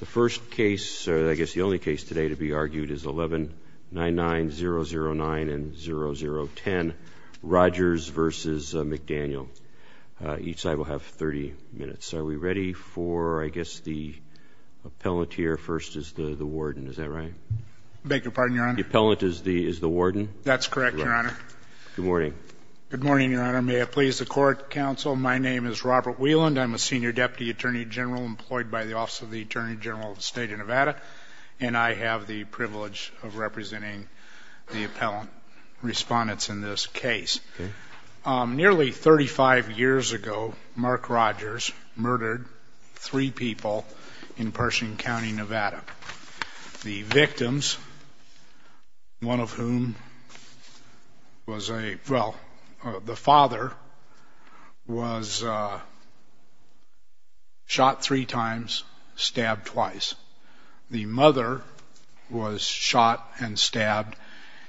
The first case, or I guess the only case today to be argued, is 11-99-009 and 0010, Rogers v. McDaniel. Each side will have 30 minutes. Are we ready for, I guess, the appellant here? First is the warden, is that right? I beg your pardon, Your Honor. The appellant is the warden? That's correct, Your Honor. Good morning. Good morning, Your Honor. May it please the Court, Counsel, my name is Robert Wieland. I'm a senior deputy attorney general employed by the Office of the Attorney General of the State of Nevada, and I have the privilege of representing the appellant respondents in this case. Nearly 35 years ago, Mark Rogers murdered three people in Pershing County, Nevada. The victims, one of whom was a, well, the father, was shot three times, stabbed twice. The mother was shot and stabbed,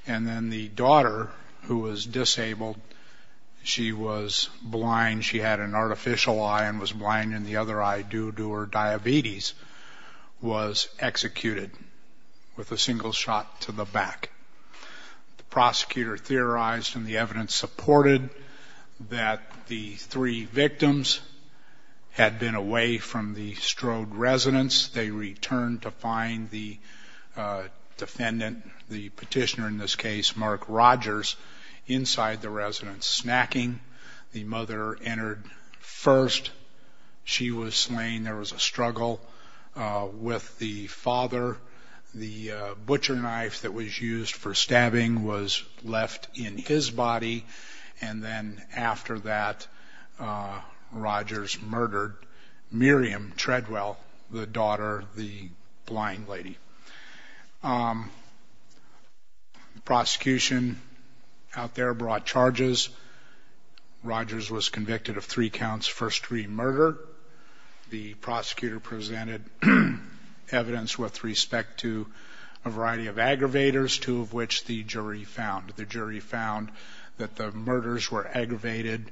and then the daughter, who was disabled, she was blind, she had an artificial eye and was blind in the other eye due to her diabetes, was executed with a single shot to the back. The prosecutor theorized and the evidence supported that the three victims had been away from the Strode residence. They returned to find the defendant, the petitioner in this case, Mark Rogers, inside the residence, snacking. The mother entered first. She was slain. There was a struggle with the father. The butcher knife that was used for stabbing was left in his body, and then after that Rogers murdered Miriam Treadwell, the daughter, the blind lady. The prosecution out there brought charges. Rogers was convicted of three counts, first three murder. The prosecutor presented evidence with respect to a variety of aggravators, two of which the jury found. The jury found that the murders were aggravated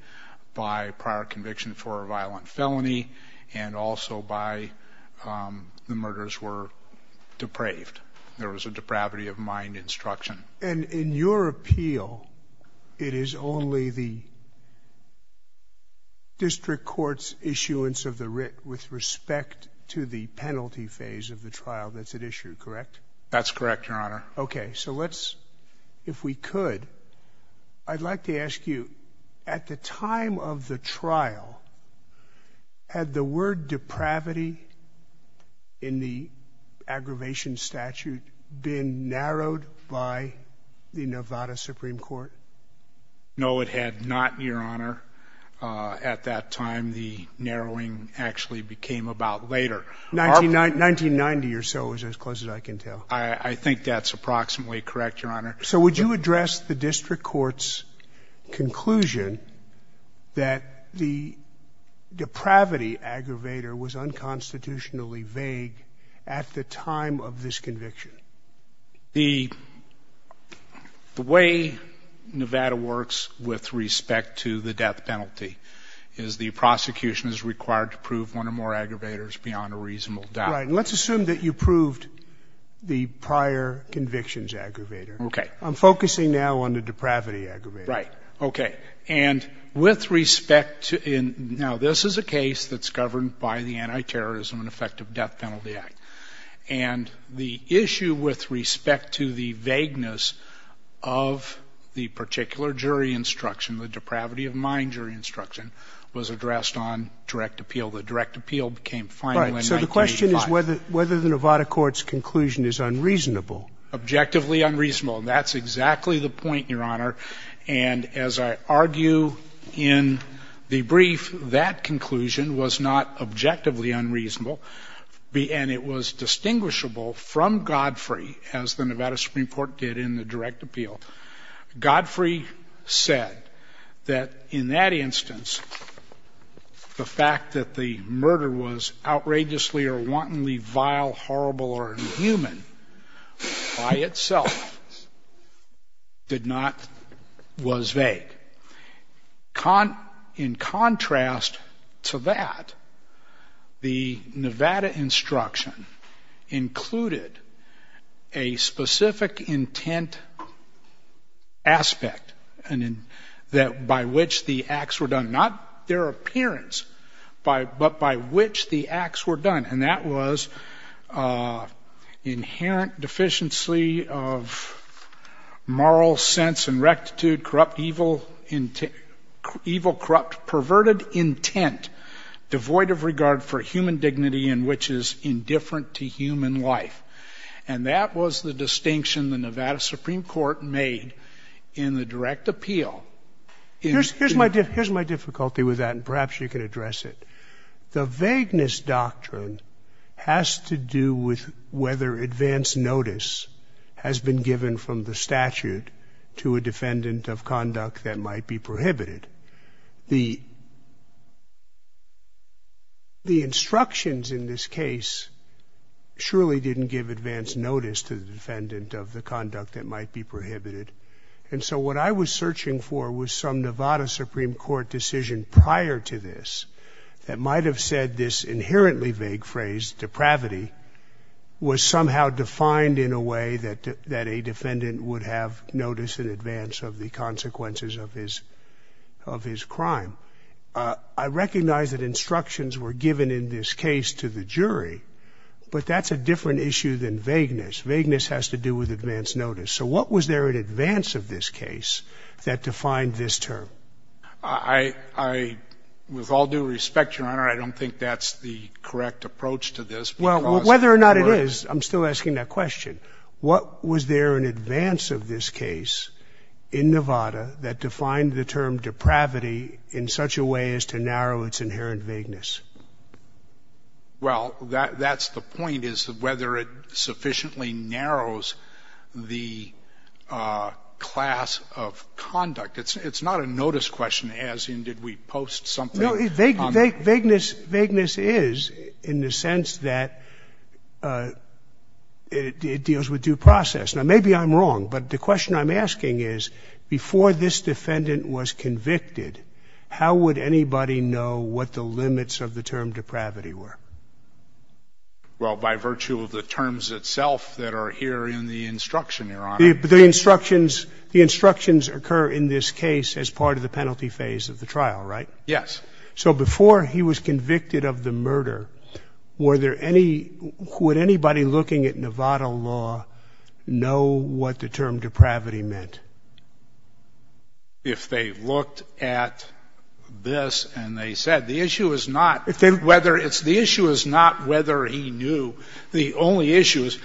by prior conviction for a violent felony and also by the murders were depraved. There was a depravity of mind instruction. And in your appeal, it is only the district court's issuance of the writ with respect to the penalty phase of the trial that's at issue, correct? That's correct, Your Honor. Okay, so let's, if we could, I'd like to ask you, at the time of the trial, had the word depravity in the aggravation statute been narrowed by the Nevada Supreme Court? No, it had not, Your Honor. At that time, the narrowing actually became about later. 1990 or so is as close as I can tell. I think that's approximately correct, Your Honor. So would you address the district court's conclusion that the depravity aggravator was unconstitutionally vague at the time of this conviction? The way Nevada works with respect to the death penalty is the prosecution is required to prove one or more aggravators beyond a reasonable doubt. Right. And let's assume that you proved the prior convictions aggravator. Okay. I'm focusing now on the depravity aggravator. Right. Okay. And with respect to, now, this is a case that's governed by the Anti-Terrorism and Effective Death Penalty Act. And the issue with respect to the vagueness of the particular jury instruction, the depravity of mind jury instruction, was addressed on direct appeal. The direct appeal became final in 1985. The question is whether the Nevada court's conclusion is unreasonable. Objectively unreasonable. That's exactly the point, Your Honor. And as I argue in the brief, that conclusion was not objectively unreasonable. And it was distinguishable from Godfrey, as the Nevada Supreme Court did in the direct appeal. Godfrey said that in that instance, the fact that the murder was outrageously or wantonly vile, horrible, or inhuman by itself did not, was vague. In contrast to that, the Nevada instruction included a specific intent aspect by which the acts were done. Not their appearance, but by which the acts were done. And that was inherent deficiency of moral sense and rectitude, corrupt evil intent, evil, corrupt, perverted intent, devoid of regard for human dignity and which is indifferent to human life. And that was the distinction the Nevada Supreme Court made in the direct appeal. Here's my difficulty with that, and perhaps you can address it. The vagueness doctrine has to do with whether advance notice has been given from the statute to a defendant of conduct that might be prohibited. The instructions in this case surely didn't give advance notice to the defendant of the conduct that might be prohibited. And so what I was searching for was some Nevada Supreme Court decision prior to this that might have said this inherently vague phrase, depravity, was somehow defined in a way that a defendant would have notice in advance of the consequences of his crime. I recognize that instructions were given in this case to the jury, but that's a different issue than vagueness. Vagueness has to do with advance notice. So what was there in advance of this case that defined this term? I, with all due respect, Your Honor, I don't think that's the correct approach to this. Well, whether or not it is, I'm still asking that question. What was there in advance of this case in Nevada that defined the term depravity in such a way as to narrow its inherent vagueness? Well, that's the point, is whether it sufficiently narrows the class of conduct. It's not a notice question, as in did we post something? Vagueness is in the sense that it deals with due process. Now, maybe I'm wrong, but the question I'm asking is before this defendant was convicted, how would anybody know what the limits of the term depravity were? Well, by virtue of the terms itself that are here in the instruction, Your Honor. The instructions occur in this case as part of the penalty phase of the trial, right? Yes. So before he was convicted of the murder, were there any, would anybody looking at Nevada law know what the term depravity meant? If they looked at this and they said, the issue is not whether it's the issue is not whether he knew. The only issue is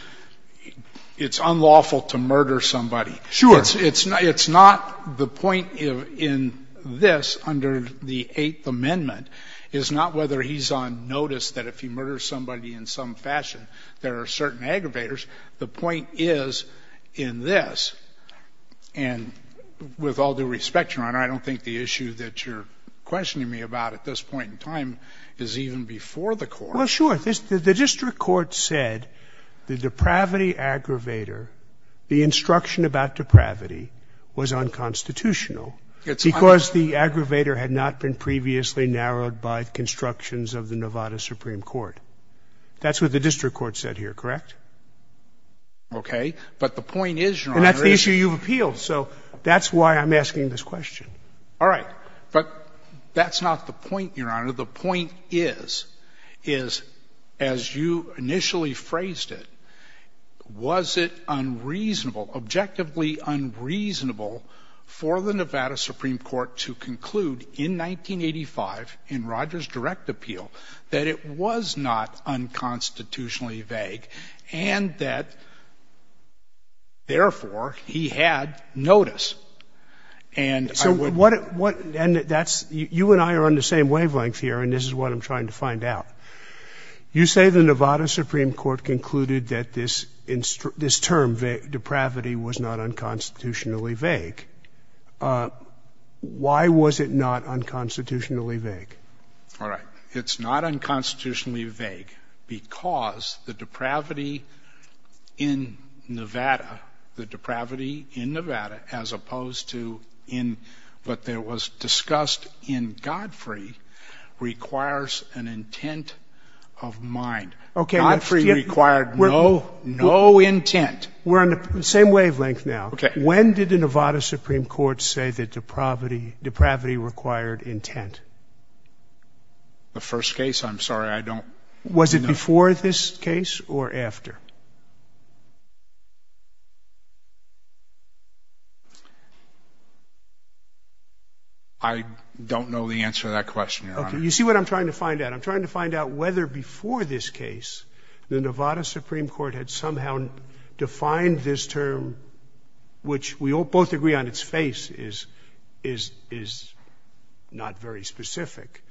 it's unlawful to murder somebody. Sure. It's not the point in this under the Eighth Amendment is not whether he's on notice that if he murders somebody in some fashion, there are certain aggravators. The point is in this, and with all due respect, Your Honor, I don't think the issue that you're questioning me about at this point in time is even before the court. Well, sure. The district court said the depravity aggravator, the instruction about depravity was unconstitutional. It's unconstitutional. Because the aggravator had not been previously narrowed by constructions of the Nevada Supreme Court. That's what the district court said here, correct? Okay. But the point is, Your Honor. And that's the issue you've appealed. So that's why I'm asking this question. All right. But that's not the point, Your Honor. The point is, is as you initially phrased it, was it unreasonable, objectively unreasonable for the Nevada Supreme Court to conclude in 1985 in Rogers' direct appeal that it was not unconstitutionally vague and that, therefore, he had notice? And I would be. So what — and that's — you and I are on the same wavelength here, and this is what I'm trying to find out. You say the Nevada Supreme Court concluded that this term, depravity, was not unconstitutionally vague. Why was it not unconstitutionally vague? All right. It's not unconstitutionally vague because the depravity in Nevada, the depravity in Nevada, as opposed to what was discussed in Godfrey, requires an intent of mind. Godfrey required no intent. We're on the same wavelength now. Okay. When did the Nevada Supreme Court say that depravity required intent? The first case. I'm sorry. I don't know. Was it before this case or after? I don't know the answer to that question, Your Honor. Okay. You see what I'm trying to find out? I'm trying to find out whether before this case the Nevada Supreme Court had somehow defined this term, which we both agree on its face is not very specific,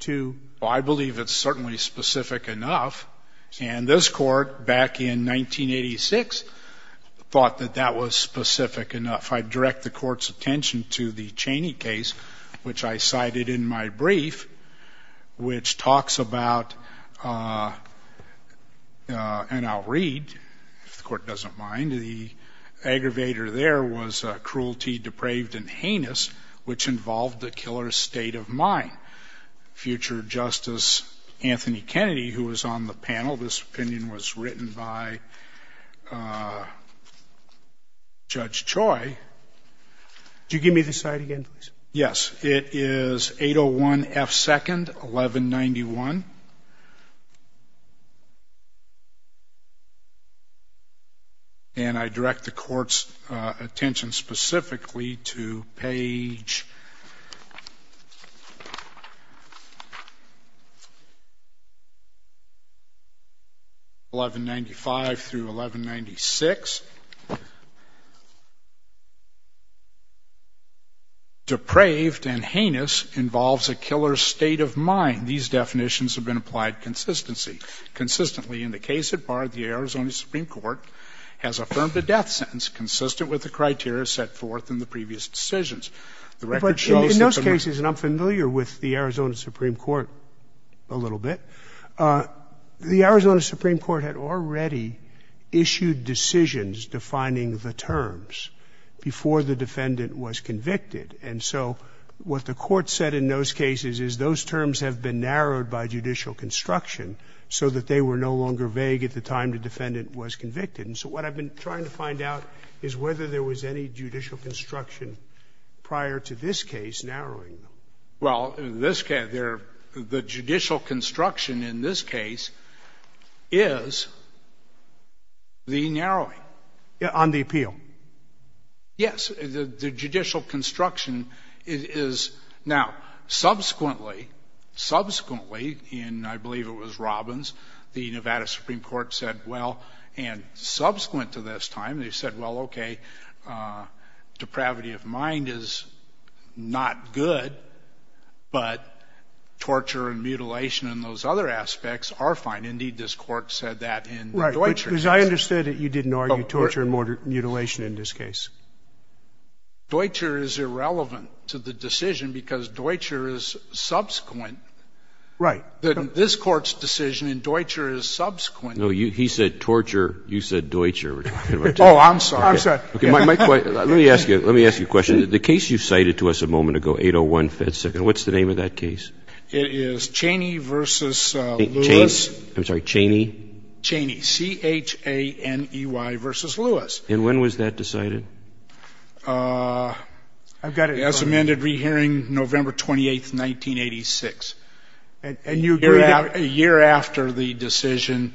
to — Well, I believe it's certainly specific enough. And this Court, back in 1986, thought that that was specific enough. I direct the Court's attention to the Cheney case, which I cited in my brief, which talks about, and I'll read, if the Court doesn't mind, the aggravator there was cruelty depraved and heinous, which involved the killer's state of mind. And it was written by a judge in the panel, future Justice Anthony Kennedy, who was on the panel. This opinion was written by Judge Choi. Could you give me this slide again, please? Yes. It is 801 F. 2nd, 1191. And I direct the Court's attention specifically to page 1195 through 1196. And in the case of Barred, the Arizona Supreme Court has affirmed a death sentence consistent with the criteria set forth in the previous decisions. The record shows that the man is not guilty. But in those cases, and I'm familiar with the Arizona Supreme Court a little bit, the Arizona Supreme Court had already issued decisions defining the terms before the defendant was convicted. And so what the Court said in those cases is those terms have been narrowed by judicial construction so that they were no longer vague at the time the defendant was convicted. And so what I've been trying to find out is whether there was any judicial construction prior to this case narrowing them. Well, in this case, the judicial construction in this case is the narrowing. On the appeal? Yes. The judicial construction is now subsequently, subsequently, and I believe it was Robbins, the Nevada Supreme Court said, well, and subsequent to this time, they said, well, okay, depravity of mind is not good, but torture and mutilation and those other aspects are fine. Indeed, this Court said that in Deutscher's case. Right, because I understood that you didn't argue torture and mutilation in this case. Deutscher is irrelevant to the decision because Deutscher is subsequent. Right. This Court's decision in Deutscher is subsequent. No, he said torture. You said Deutscher. Oh, I'm sorry. My question, let me ask you, let me ask you a question. The case you cited to us a moment ago, 801 Fed Second, what's the name of that case? It is Chaney v. Lewis. I'm sorry, Chaney? Chaney, C-h-a-n-e-y v. Lewis. And when was that decided? I've got it as amended, rehearing November 28, 1986. And you agree that? A year after the decision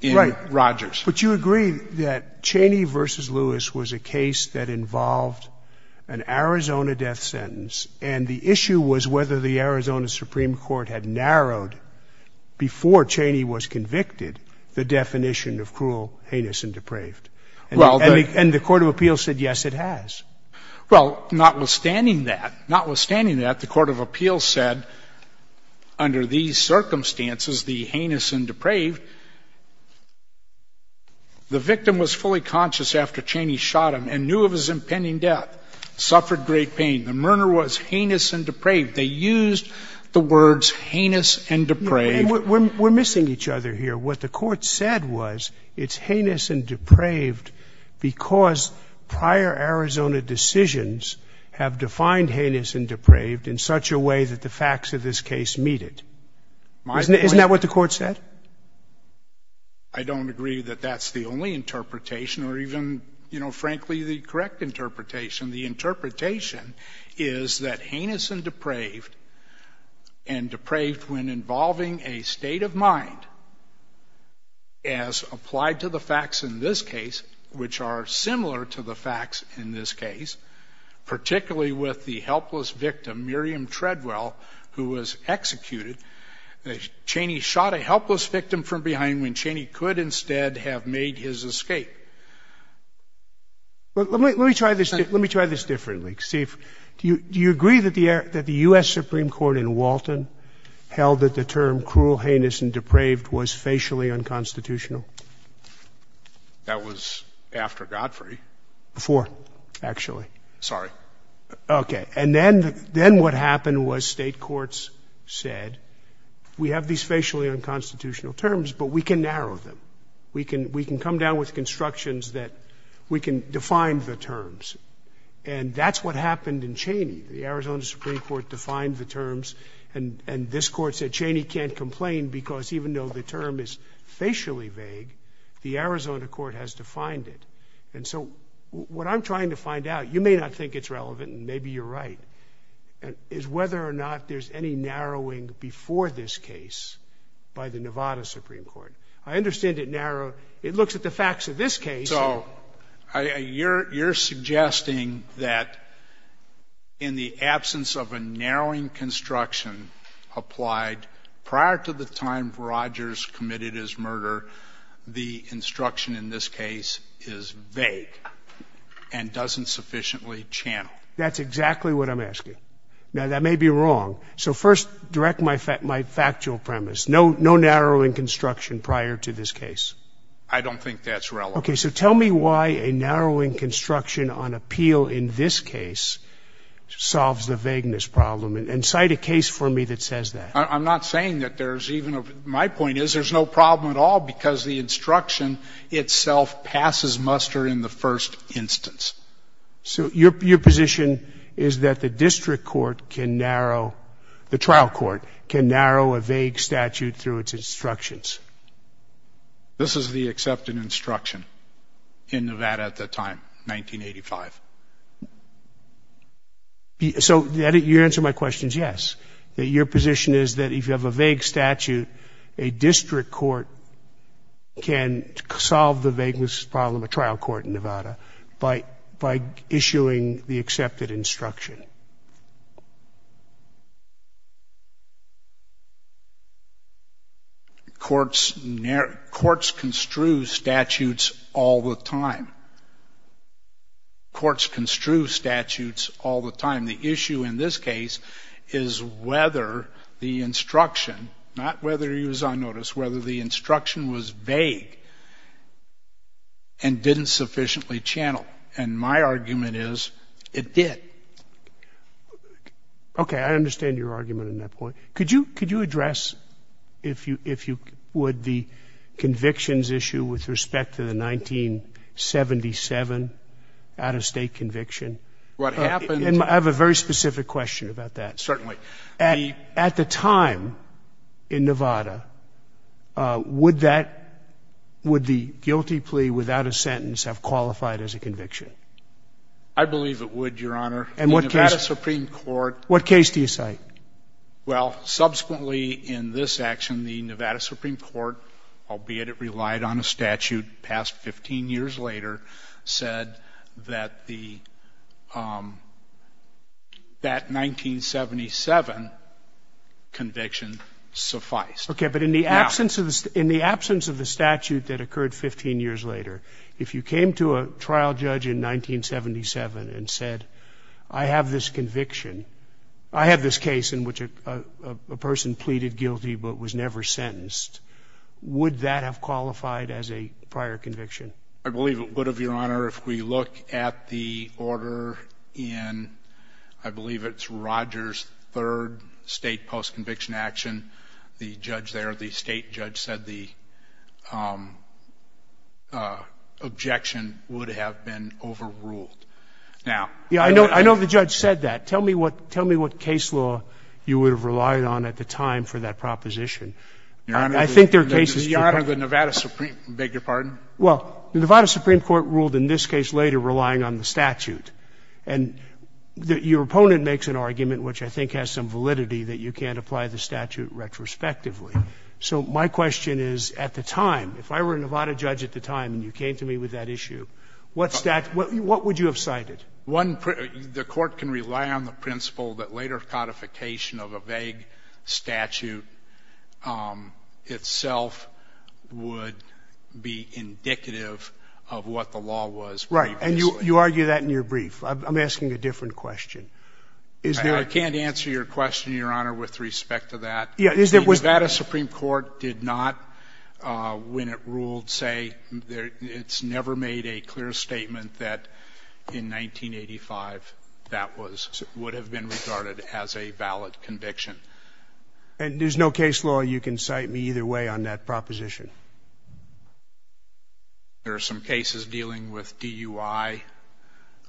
in Rogers. But you agree that Chaney v. Lewis was a case that involved an Arizona death sentence, and the issue was whether the Arizona Supreme Court had narrowed, before Chaney was convicted, the definition of cruel, heinous, and depraved. And the court of appeals said, yes, it has. Well, notwithstanding that, notwithstanding that, the court of appeals said, under these circumstances, the heinous and depraved, the victim was fully conscious after Chaney shot him and knew of his impending death, suffered great pain. The murder was heinous and depraved. They used the words heinous and depraved. We're missing each other here. What the court said was it's heinous and depraved because prior Arizona decisions have defined heinous and depraved in such a way that the facts of this case meet it. Isn't that what the court said? I don't agree that that's the only interpretation, or even, you know, frankly, the correct interpretation. The interpretation is that heinous and depraved, and depraved when involving a state of mind, as applied to the facts in this case, which are similar to the facts in this case, particularly with the helpless victim, Miriam Treadwell, who was executed. Chaney shot a helpless victim from behind when Chaney could instead have made his escape. Let me try this differently, Steve. Do you agree that the U.S. Supreme Court in Walton held that the term cruel, heinous, and depraved was facially unconstitutional? That was after Godfrey. Before, actually. Sorry. Okay. And then what happened was state courts said, we have these facially unconstitutional terms, but we can narrow them. We can come down with constructions that we can define the terms. And that's what happened in Chaney. The Arizona Supreme Court defined the terms, and this court said Chaney can't complain because even though the term is facially vague, the Arizona court has defined it. And so what I'm trying to find out, you may not think it's relevant, and maybe you're right, is whether or not there's any narrowing before this case by the Nevada Supreme Court. I understand it narrowed. It looks at the facts of this case. So you're suggesting that in the absence of a narrowing construction applied prior to the time Rogers committed his murder, the instruction in this case is vague and doesn't sufficiently channel. That's exactly what I'm asking. Now, that may be wrong. So first, direct my factual premise. No narrowing construction prior to this case. I don't think that's relevant. Okay. So tell me why a narrowing construction on appeal in this case solves the vagueness problem, and cite a case for me that says that. I'm not saying that there's even a – my point is there's no problem at all because the instruction itself passes muster in the first instance. So your position is that the district court can narrow – the trial court can narrow a vague statute through its instructions? This is the accepted instruction in Nevada at the time, 1985. So you answer my questions, yes. Your position is that if you have a vague statute, a district court can solve the vagueness problem, a trial court in Nevada, by issuing the accepted instruction. Courts construe statutes all the time. Courts construe statutes all the time. The issue in this case is whether the instruction – not whether he was on notice – whether the instruction was vague and didn't sufficiently channel. And my argument is it did. Okay. I understand your argument on that point. Could you address, if you would, the convictions issue with respect to the 1977 out-of-state conviction? What happened – And I have a very specific question about that. Certainly. At the time in Nevada, would that – would the guilty plea without a sentence have qualified as a conviction? I believe it would, Your Honor. And what case – The Nevada Supreme Court – What case do you cite? Well, subsequently in this action, the Nevada Supreme Court, albeit it relied on a statute passed 15 years later, said that the – that 1977 conviction sufficed. Okay. But in the absence of the statute that occurred 15 years later, if you came to a trial judge in 1977 and said, I have this conviction, I have this case in which a person pleaded guilty but was never sentenced, would that have qualified as a prior conviction? I believe it would have, Your Honor. If we look at the order in – I believe it's Rogers' third state post-conviction action, the judge there, the state judge said the objection would have been overruled. Now – Yeah, I know the judge said that. Tell me what case law you would have relied on at the time for that proposition. Your Honor, the – I think there are cases – Your Honor, the Nevada Supreme – beg your pardon? Well, the Nevada Supreme Court ruled in this case later relying on the statute. And your opponent makes an argument which I think has some validity, that you can't apply the statute retrospectively. So my question is, at the time, if I were a Nevada judge at the time and you came to me with that issue, what statute – what would you have cited? The court can rely on the principle that later codification of a vague statute itself would be indicative of what the law was. Right. And you argue that in your brief. I'm asking a different question. I can't answer your question, Your Honor, with respect to that. The Nevada Supreme Court did not, when it ruled, say – it's never made a clear statement that in 1985 that was – would have been regarded as a valid conviction. And there's no case law you can cite me either way on that proposition? There are some cases dealing with DUI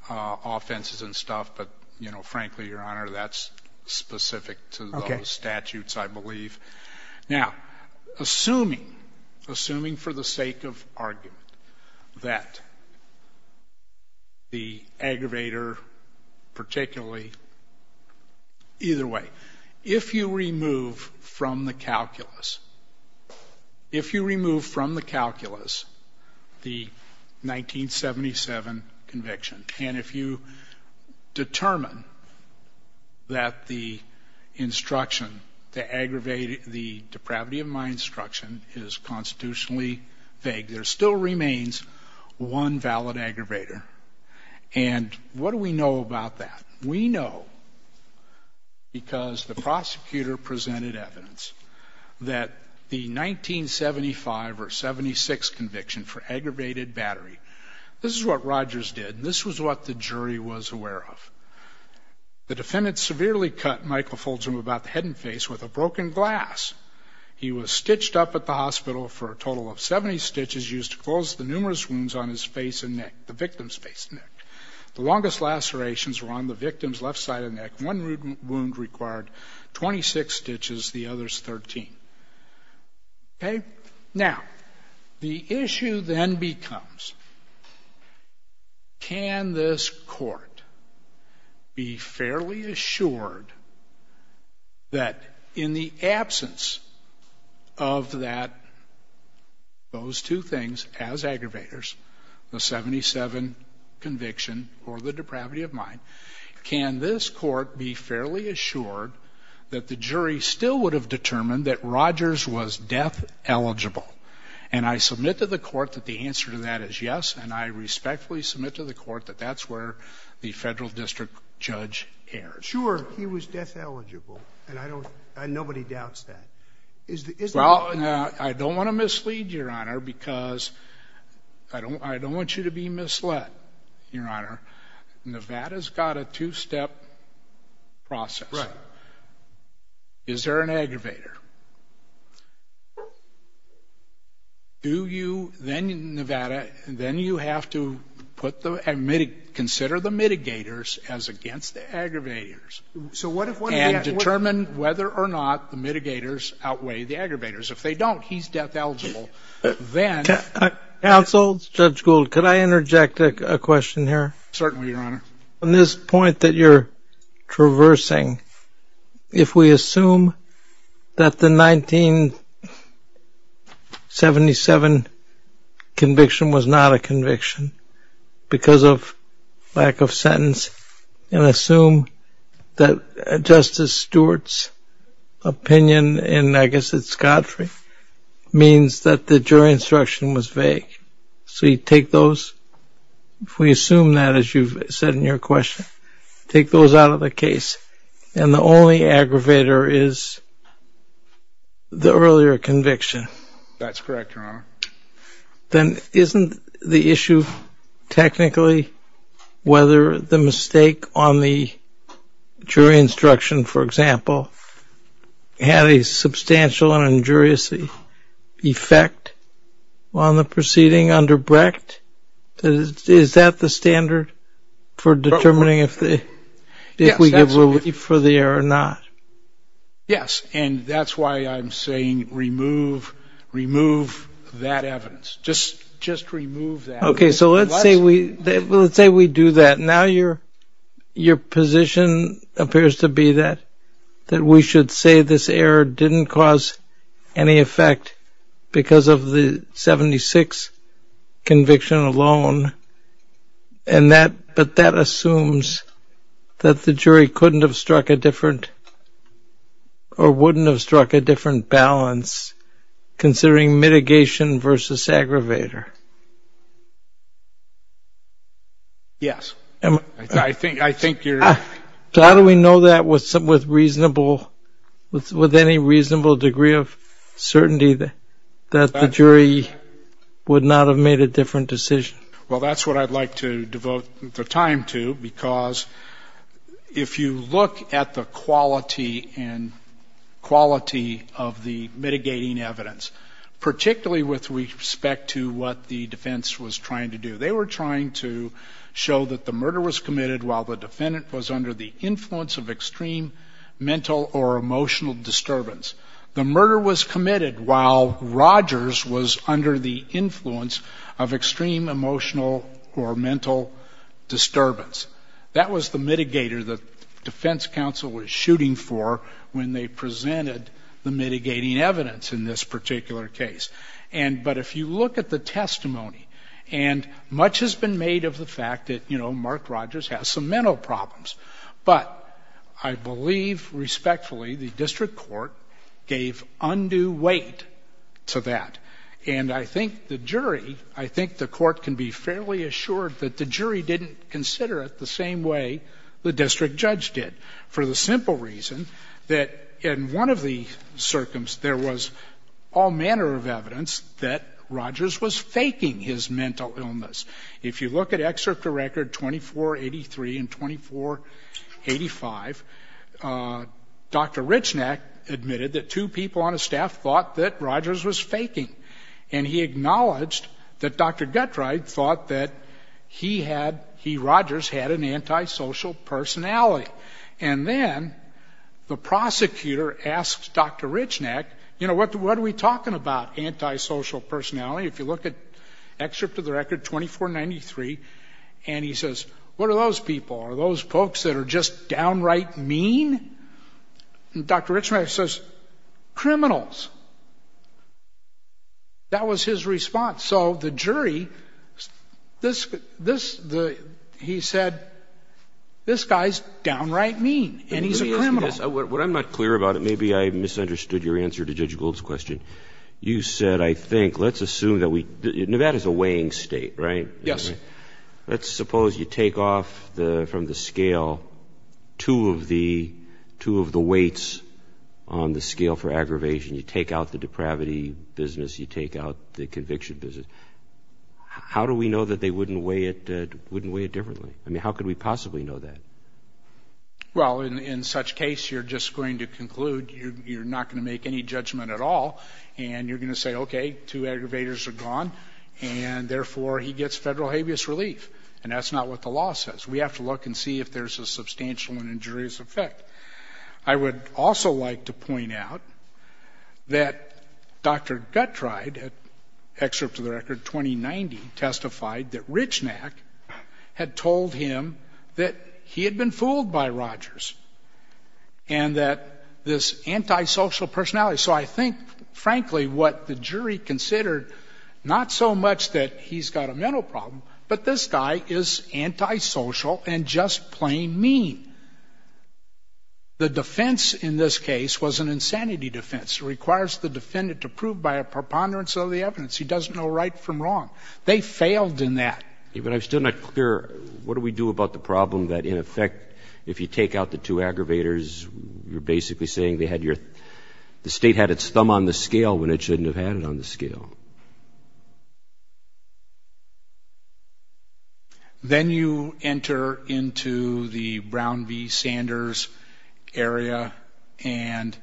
offenses and stuff, but, you know, frankly, Your Honor, that's specific to those statutes, I believe. Now, assuming, assuming for the sake of argument, that the aggravator, particularly – either way, if you remove from the calculus, if you remove from the calculus the 1977 conviction, and if you determine that the instruction to aggravate the depravity of my instruction is constitutionally vague, there still remains one valid aggravator. And what do we know about that? We know, because the prosecutor presented evidence, that the 1975 or 76 conviction for aggravated battery, this is what Rogers did, and this was what the jury was aware of. The defendant severely cut Michael Folger about the head and face with a broken glass. He was stitched up at the hospital for a total of 70 stitches used to close the numerous wounds on his face and neck, the victim's face and neck. The longest lacerations were on the victim's left side of the neck. One wound required 26 stitches, the others 13. Okay? Now, the issue then becomes, can this court be fairly assured that in the absence of that, those two things as aggravators, the 1977 conviction or the depravity of mine, can this court be fairly assured that the jury still would have determined that Rogers was death eligible? And I submit to the court that the answer to that is yes, and I respectfully submit to the court that that's where the Federal district judge erred. Sure, he was death eligible, and I don't, nobody doubts that. Well, I don't want to mislead, Your Honor, because I don't want you to be misled, Your Honor. Nevada's got a two-step process. Right. Is there an aggravator? Do you, then in Nevada, then you have to put the, consider the mitigators as against the aggravators and determine whether or not the mitigators outweigh the aggravators. If they don't, he's death eligible. Counsel, Judge Gould, could I interject a question here? Certainly, Your Honor. On this point that you're traversing, if we assume that the 1977 conviction was not a conviction because of lack of sentence and assume that Justice Stewart's opinion in, I guess it's Godfrey, means that the jury instruction was vague. So you take those, if we assume that, as you've said in your question, take those out of the case, and the only aggravator is the earlier conviction. That's correct, Your Honor. Then isn't the issue technically whether the mistake on the jury instruction, for example, had a substantial and injurious effect on the proceeding under Brecht? Is that the standard for determining if we give relief for the error or not? Yes. And that's why I'm saying remove that evidence. Just remove that. Okay. So let's say we do that. Now your position appears to be that we should say this error didn't cause any effect because of the 1976 conviction alone, but that assumes that the jury couldn't have struck a different or wouldn't have struck a different balance considering mitigation versus aggravator. Yes. I think you're right. So how do we know that with any reasonable degree of certainty that the jury would not have made a different decision? Well, that's what I'd like to devote the time to, because if you look at the quality of the mitigating evidence, particularly with respect to what the defense was trying to do, they were trying to show that the murder was committed while the defendant was under the influence of extreme mental or emotional disturbance. The murder was committed while Rogers was under the influence of extreme emotional or mental disturbance. That was the mitigator the defense counsel was shooting for when they presented the mitigating evidence in this particular case. But if you look at the testimony, and much has been made of the fact that Mark Rogers has some mental problems, but I believe respectfully the district court gave undue weight to that. And I think the jury, I think the court can be fairly assured that the jury didn't consider it the same way the district judge did for the simple reason that in one of the circumstances, there was all manner of evidence that Rogers was faking his mental illness. If you look at Excerpt to Record 2483 and 2485, Dr. Richnack admitted that two people on his staff thought that Rogers was faking, and he acknowledged that Dr. Guttreid thought that he had, he, Rogers, had an antisocial personality. And then the prosecutor asked Dr. Richnack, you know, what are we talking about, antisocial personality? If you look at Excerpt to the Record 2493, and he says, what are those people? Are those folks that are just downright mean? And Dr. Richnack says, criminals. That was his response. So the jury, he said, this guy's downright mean, and he's a criminal. Let me ask you this. What I'm not clear about, and maybe I misunderstood your answer to Judge Gould's question, you said, I think, let's assume that we, Nevada's a weighing state, right? Yes. Let's suppose you take off from the scale two of the weights on the scale for aggravation. You take out the depravity business. You take out the conviction business. How do we know that they wouldn't weigh it differently? I mean, how could we possibly know that? Well, in such case, you're just going to conclude you're not going to make any judgment at all, and you're going to say, okay, two aggravators are gone, and therefore he gets federal habeas relief. And that's not what the law says. We have to look and see if there's a substantial and injurious effect. I would also like to point out that Dr. Guttreid, excerpt to the record, 2090, testified that Richnack had told him that he had been fooled by Rogers and that this antisocial personality. So I think, frankly, what the jury considered, not so much that he's got a mental problem, but this guy is antisocial and just plain mean. The defense in this case was an insanity defense. It requires the defendant to prove by a preponderance of the evidence. He doesn't know right from wrong. They failed in that. But I'm still not clear. What do we do about the problem that, in effect, if you take out the two aggravators, you're basically saying the state had its thumb on the scale when it shouldn't have had it on the scale. Then you enter into the Brown v. Sanders area, and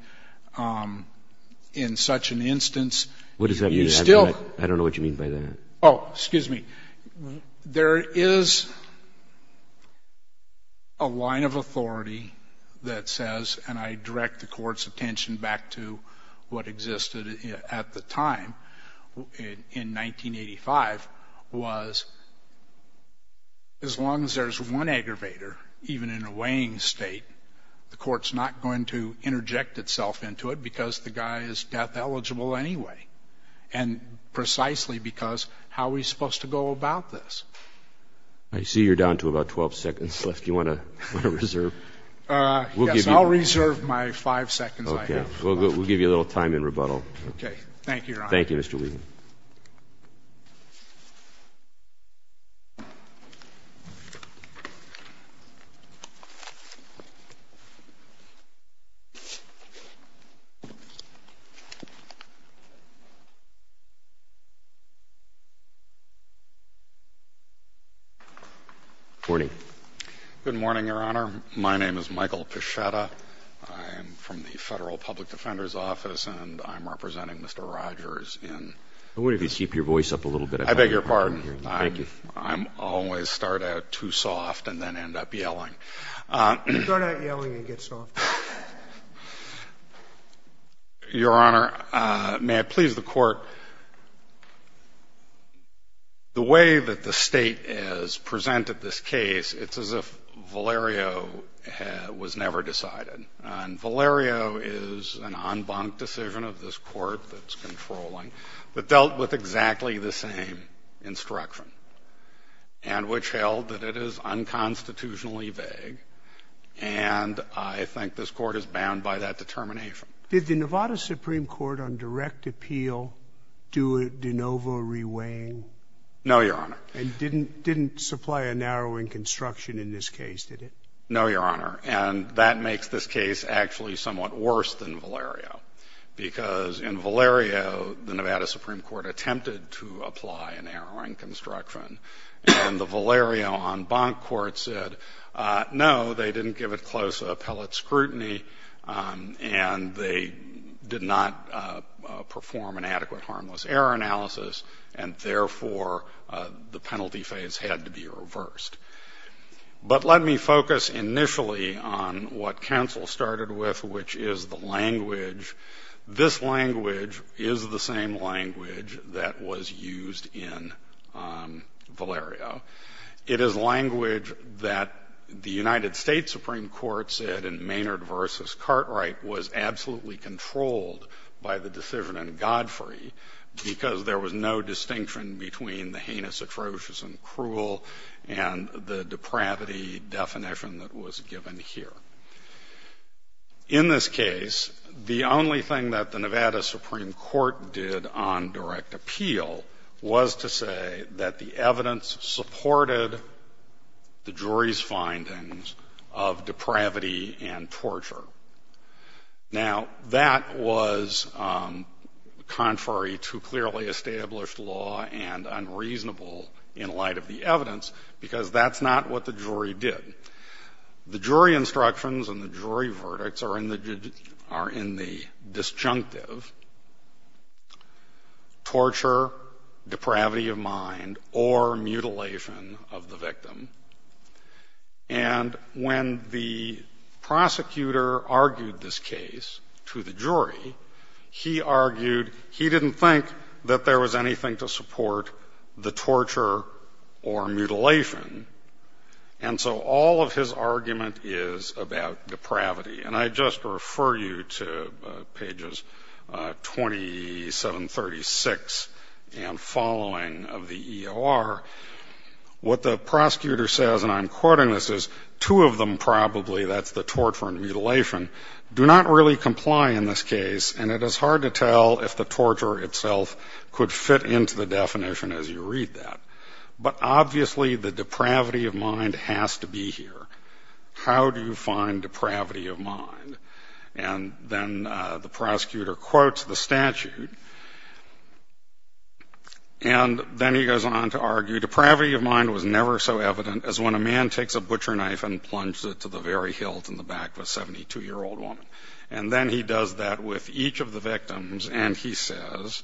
in such an instance, you still – What does that mean? I don't know what you mean by that. Oh, excuse me. There is a line of authority that says, and I direct the court's attention back to what existed at the time in 1985, was as long as there's one aggravator, even in a weighing state, the court's not going to interject itself into it because the guy is death eligible anyway, and precisely because how are we supposed to go about this? I see you're down to about 12 seconds left. Do you want to reserve? Yes. I'll reserve my 5 seconds, I guess. We'll give you a little time in rebuttal. Okay. Thank you, Your Honor. Thank you, Mr. Wheaton. Good morning. Good morning, Your Honor. My name is Michael Pichetta. I am from the Federal Public Defender's Office, and I'm representing Mr. Rogers in – I wonder if you'd keep your voice up a little bit. I beg your pardon. Thank you. I always start out too soft and then end up yelling. Your Honor, may I please the court's attention? In court, the way that the State has presented this case, it's as if Valerio was never decided. And Valerio is an en banc decision of this Court that's controlling, but dealt with exactly the same instruction, and which held that it is unconstitutionally vague, and I think this Court is bound by that determination. Did the Nevada Supreme Court on direct appeal do a de novo reweighing? No, Your Honor. And didn't supply a narrowing construction in this case, did it? No, Your Honor. And that makes this case actually somewhat worse than Valerio, because in Valerio, the Nevada Supreme Court attempted to apply a narrowing construction, and the Valerio en banc court said, no, they didn't give it close appellate scrutiny, and they did not perform an adequate harmless error analysis, and therefore the penalty phase had to be reversed. But let me focus initially on what counsel started with, which is the language. This language is the same language that was used in Valerio. It is language that the United States Supreme Court said in Maynard v. Cartwright was absolutely controlled by the decision in Godfrey, because there was no distinction between the heinous, atrocious, and cruel, and the depravity definition that was given here. In this case, the only thing that the Nevada Supreme Court did on direct appeal was to say that the evidence supported the jury's findings of depravity and torture. Now, that was contrary to clearly established law and unreasonable in light of the evidence, because that's not what the jury did. The jury instructions and the jury verdicts are in the disjunctive. Torture, depravity of mind, or mutilation of the victim. And when the prosecutor argued this case to the jury, he argued he didn't think that there was anything to support the torture or mutilation, and so all of his argument is about depravity. And I just refer you to pages 2736 and following of the EOR. What the prosecutor says, and I'm quoting this, is two of them probably, that's the torture and mutilation, do not really comply in this case, and it is hard to tell if the torture itself could fit into the definition as you read that. But obviously the depravity of mind has to be here. How do you find depravity of mind? And then the prosecutor quotes the statute, and then he goes on to argue depravity of mind was never so evident as when a man takes a butcher knife and plunges it to the very hilt in the back of a 72-year-old woman. And then he does that with each of the victims, and he says,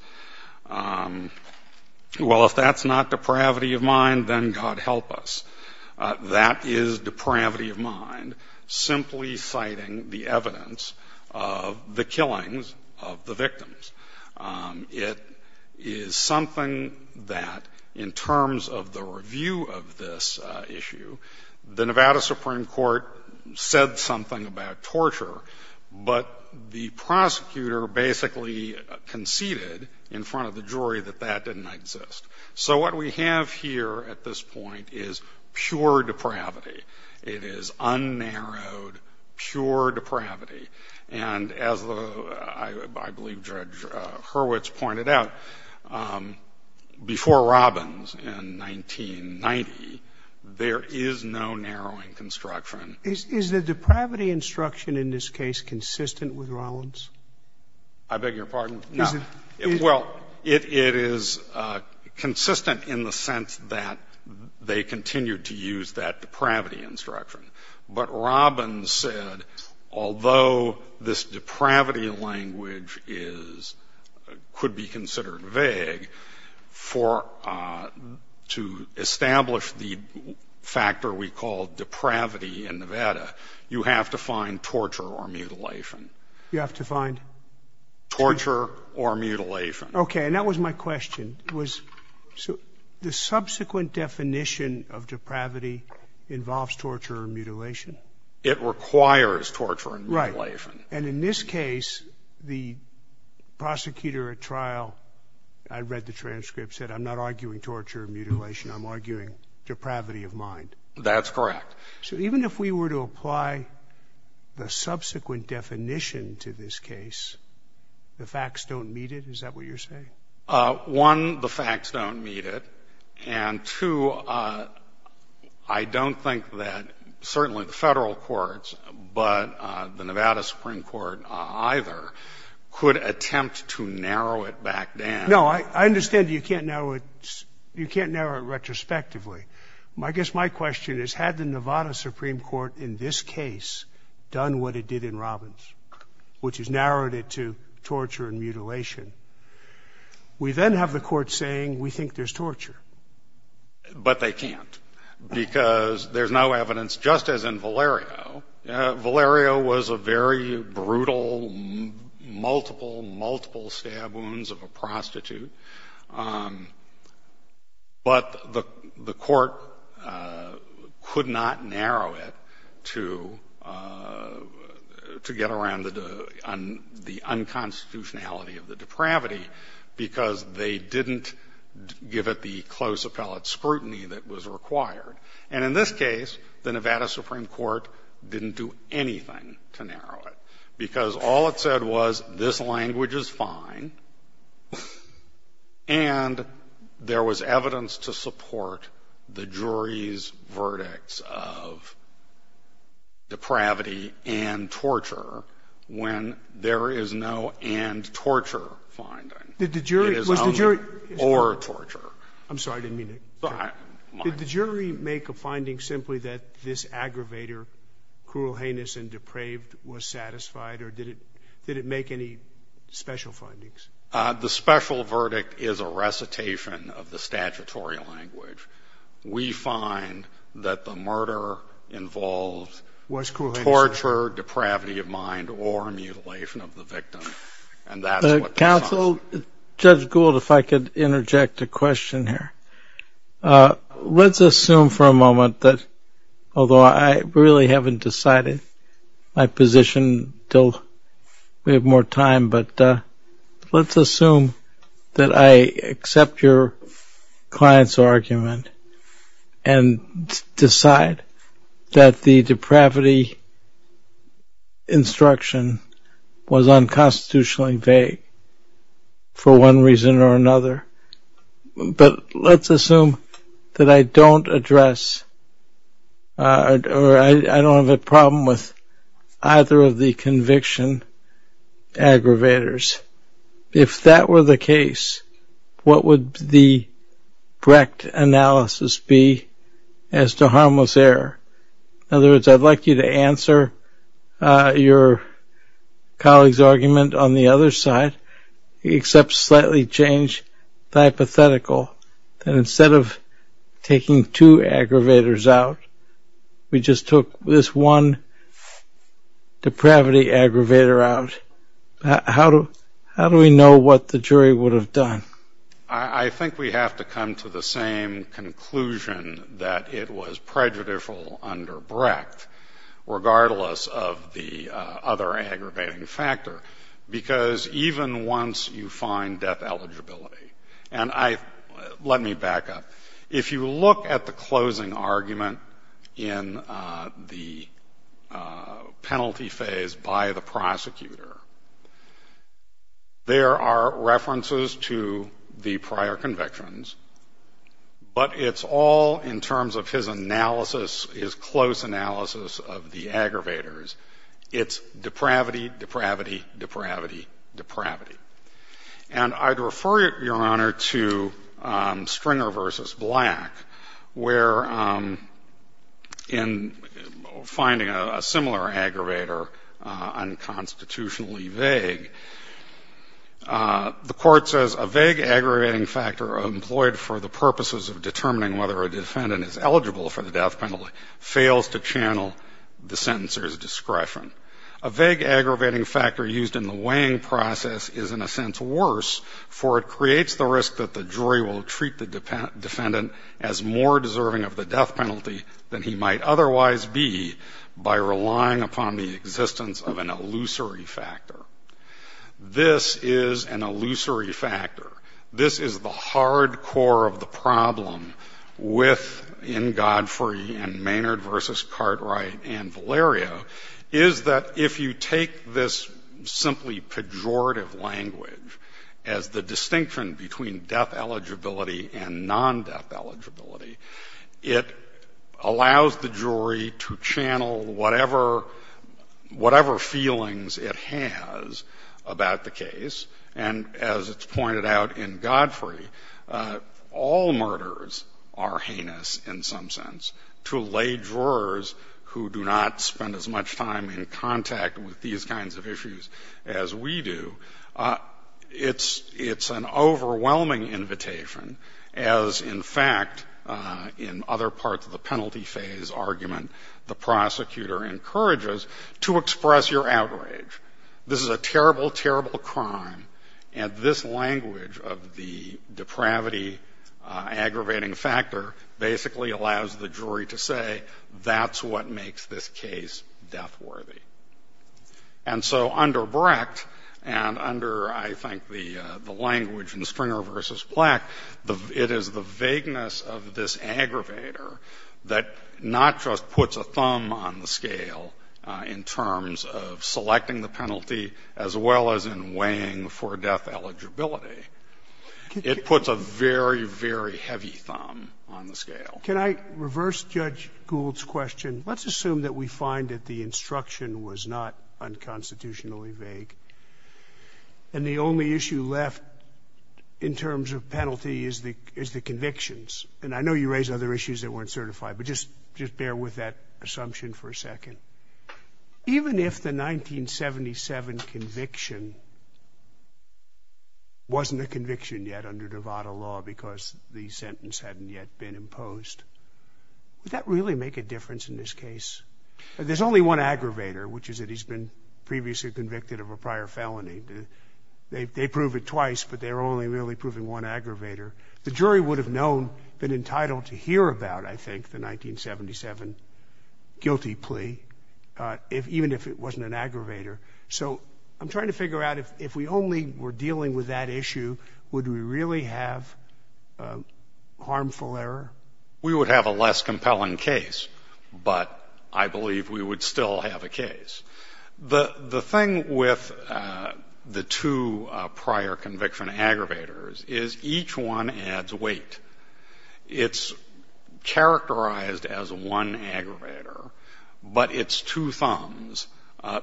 well, if that's not depravity of mind, then God help us. That is depravity of mind, simply citing the evidence of the killings of the victims. It is something that, in terms of the review of this issue, the Nevada Supreme Court said something about torture, but the prosecutor basically conceded in front of the jury that that didn't exist. So what we have here at this point is pure depravity. It is unnarrowed, pure depravity. And as I believe Judge Hurwitz pointed out, before Robbins in 1990, there is no narrowing construction. Is the depravity instruction in this case consistent with Robbins? I beg your pardon? Well, it is consistent in the sense that they continued to use that depravity instruction. But Robbins said, although this depravity language is, could be considered vague, for, to establish the factor we call depravity in Nevada, you have to find torture or mutilation. You have to find? Torture or mutilation. Okay, and that was my question. Was the subsequent definition of depravity involves torture or mutilation? It requires torture and mutilation. Right, and in this case, the prosecutor at trial, I read the transcript, said, I'm not arguing torture or mutilation. I'm arguing depravity of mind. That's correct. So even if we were to apply the subsequent definition to this case, the facts don't meet it? Is that what you're saying? One, the facts don't meet it. And two, I don't think that certainly the federal courts, but the Nevada Supreme Court either, could attempt to narrow it back down. No, I understand you can't narrow it retrospectively. I guess my question is, had the Nevada Supreme Court in this case done what it did in Robbins, which is narrowed it to torture and mutilation, we then have the court saying we think there's torture. But they can't, because there's no evidence, just as in Valerio, Valerio was a very brutal, multiple, multiple stab wounds of a prostitute. But the court could not narrow it to get around the unconstitutionality of the depravity, because they didn't give it the close appellate scrutiny that was required. And in this case, the Nevada Supreme Court didn't do anything to narrow it, because all it said was this language is fine, and there was evidence to support the jury's verdicts of depravity and torture when there is no and torture finding. It is only or torture. I'm sorry, I didn't mean to interrupt. Did the jury make a finding simply that this aggravator, cruel, heinous, and depraved, was satisfied, or did it make any special findings? The special verdict is a recitation of the statutory language. We find that the murder involves torture, depravity of mind, or mutilation of the victim. Counsel, Judge Gould, if I could interject a question here. Let's assume for a moment that, although I really haven't decided my position until we have more time, but let's assume that I accept your client's argument and decide that the argument is constitutionally vague for one reason or another. But let's assume that I don't address, or I don't have a problem with either of the conviction aggravators. If that were the case, what would the Brecht analysis be as to harmless error? In other words, I'd like you to answer your colleague's argument on the other side, except slightly change the hypothetical. Instead of taking two aggravators out, we just took this one depravity aggravator out. How do we know what the jury would have done? I think we have to come to the same conclusion that it was prejudicial under Brecht, regardless of the other aggravating factor, because even once you find death eligibility and I, let me back up. If you look at the closing argument in the penalty phase by the prosecutor, there are references to the prior convictions, but it's all in terms of his analysis, his close analysis of the aggravators. It's depravity, depravity, depravity, depravity. And I'd refer, Your Honor, to Stringer v. Black, where in finding a similar aggravator unconstitutionally vague, the court says, A vague aggravating factor employed for the purposes of determining whether a defendant is eligible for the death penalty fails to channel the sentencer's discretion. A vague aggravating factor used in the weighing process is in a sense worse, for it creates the risk that the jury will treat the defendant as more deserving of the death penalty than he might otherwise be by relying upon the existence of an illusory factor. This is an illusory factor. This is the hard core of the problem within Godfrey and Maynard v. Cartwright and Valerio, is that if you take this simply pejorative language as the distinction between death eligibility and non-death eligibility, it allows the jury to channel whatever feelings it has about the case. And as it's pointed out in Godfrey, all murders are heinous in some sense to lay jurors who do not spend as much time in contact with these kinds of issues as we do. It's an overwhelming invitation as, in fact, in other parts of the penalty phase argument, the prosecutor encourages to express your outrage. This is a terrible, terrible crime, and this language of the depravity aggravating factor basically allows the jury to say that's what makes this case death worthy. And so under Brecht and under, I think, the language in Stringer v. Black, it is the vagueness of this aggravator that not just puts a thumb on the scale in terms of selecting the penalty as well as in weighing for death eligibility. It puts a very, very heavy thumb on the scale. Can I reverse Judge Gould's question? Let's assume that we find that the instruction was not unconstitutionally vague, and the only issue left in terms of penalty is the convictions. And I know you raised other issues that weren't certified, but just bear with that assumption for a second. Even if the 1977 conviction wasn't a conviction yet under Nevada law because the sentence hadn't yet been imposed, would that really make a difference in this case? There's only one aggravator, which is that he's been previously convicted of a prior felony. They prove it twice, but they're only really proving one aggravator. The jury would have known, been entitled to hear about, I think, the 1977 guilty plea, even if it wasn't an aggravator. So I'm trying to figure out if we only were dealing with that issue, would we really have harmful error? We would have a less compelling case, but I believe we would still have a case. The thing with the two prior conviction aggravators is each one adds weight. It's characterized as one aggravator, but it's two thumbs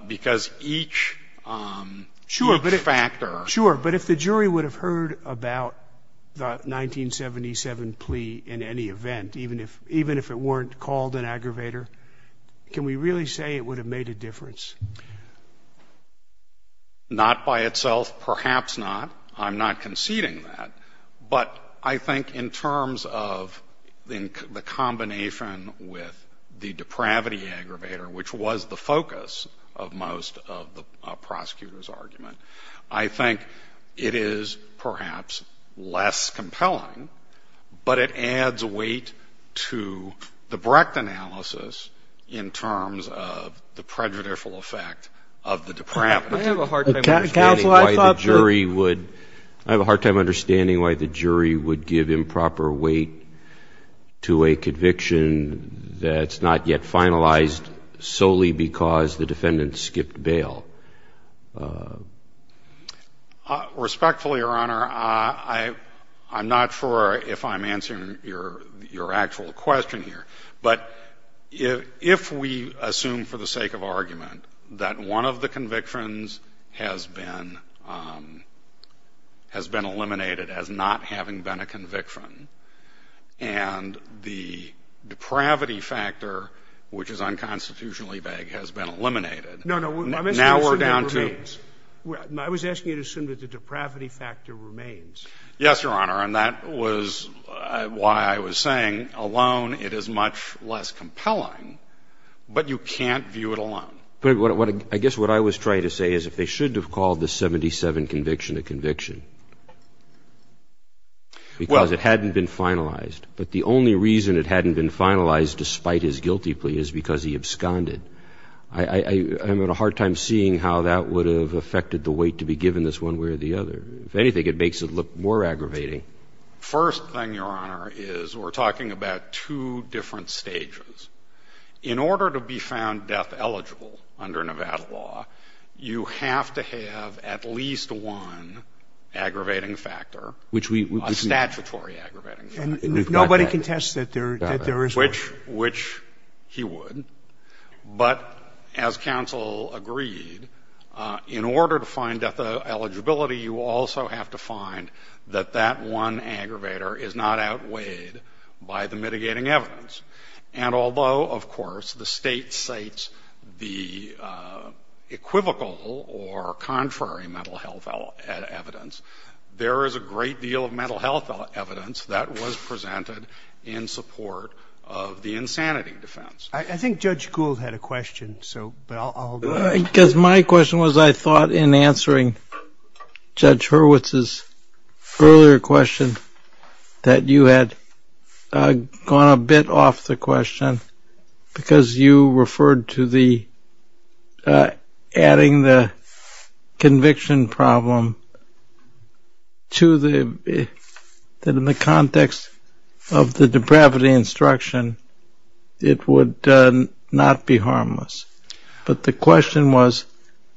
because each factor. Sure, but if the jury would have heard about the 1977 plea in any event, even if it weren't called an aggravator, can we really say it would have made a difference? Not by itself, perhaps not. I'm not conceding that. But I think in terms of the combination with the depravity aggravator, which was the focus of most of the prosecutor's argument, I think it is perhaps less compelling, but it adds weight to the Brecht analysis in terms of the prejudicial effect of the depravity. I have a hard time understanding why the jury would give improper weight to a conviction that's not yet finalized solely because the defendant skipped bail. Respectfully, Your Honor, I'm not sure if I'm answering your actual question here, but if we assume for the sake of argument that one of the convictions has been eliminated as not having been a conviction, and the depravity factor, which is unconstitutionally vague, has been eliminated, now we're down to — No, no. I'm asking you to assume that the depravity factor remains. Yes, Your Honor. And that was why I was saying alone it is much less compelling, but you can't view it alone. But I guess what I was trying to say is if they should have called the 1977 conviction a conviction because it hadn't been finalized, but the only reason it hadn't been finalized despite his guilty plea is because he absconded, I'm at a hard time seeing how that would have affected the weight to be given this one way or the other. If anything, it makes it look more aggravating. First thing, Your Honor, is we're talking about two different stages. In order to be found death-eligible under Nevada law, you have to have at least one aggravating factor, a statutory aggravating factor. And nobody can test that there is one. Which he would. But as counsel agreed, in order to find death-eligibility, you also have to find that that one aggravator is not outweighed by the mitigating evidence. And although, of course, the state cites the equivocal or contrary mental health evidence, there is a great deal of mental health evidence that was presented in support of the insanity defense. I think Judge Gould had a question, so I'll go ahead. Because my question was I thought in answering Judge Hurwitz's earlier question that you had gone a bit off the question because you referred to adding the conviction problem to the context of the depravity instruction, it would not be harmless. But the question was,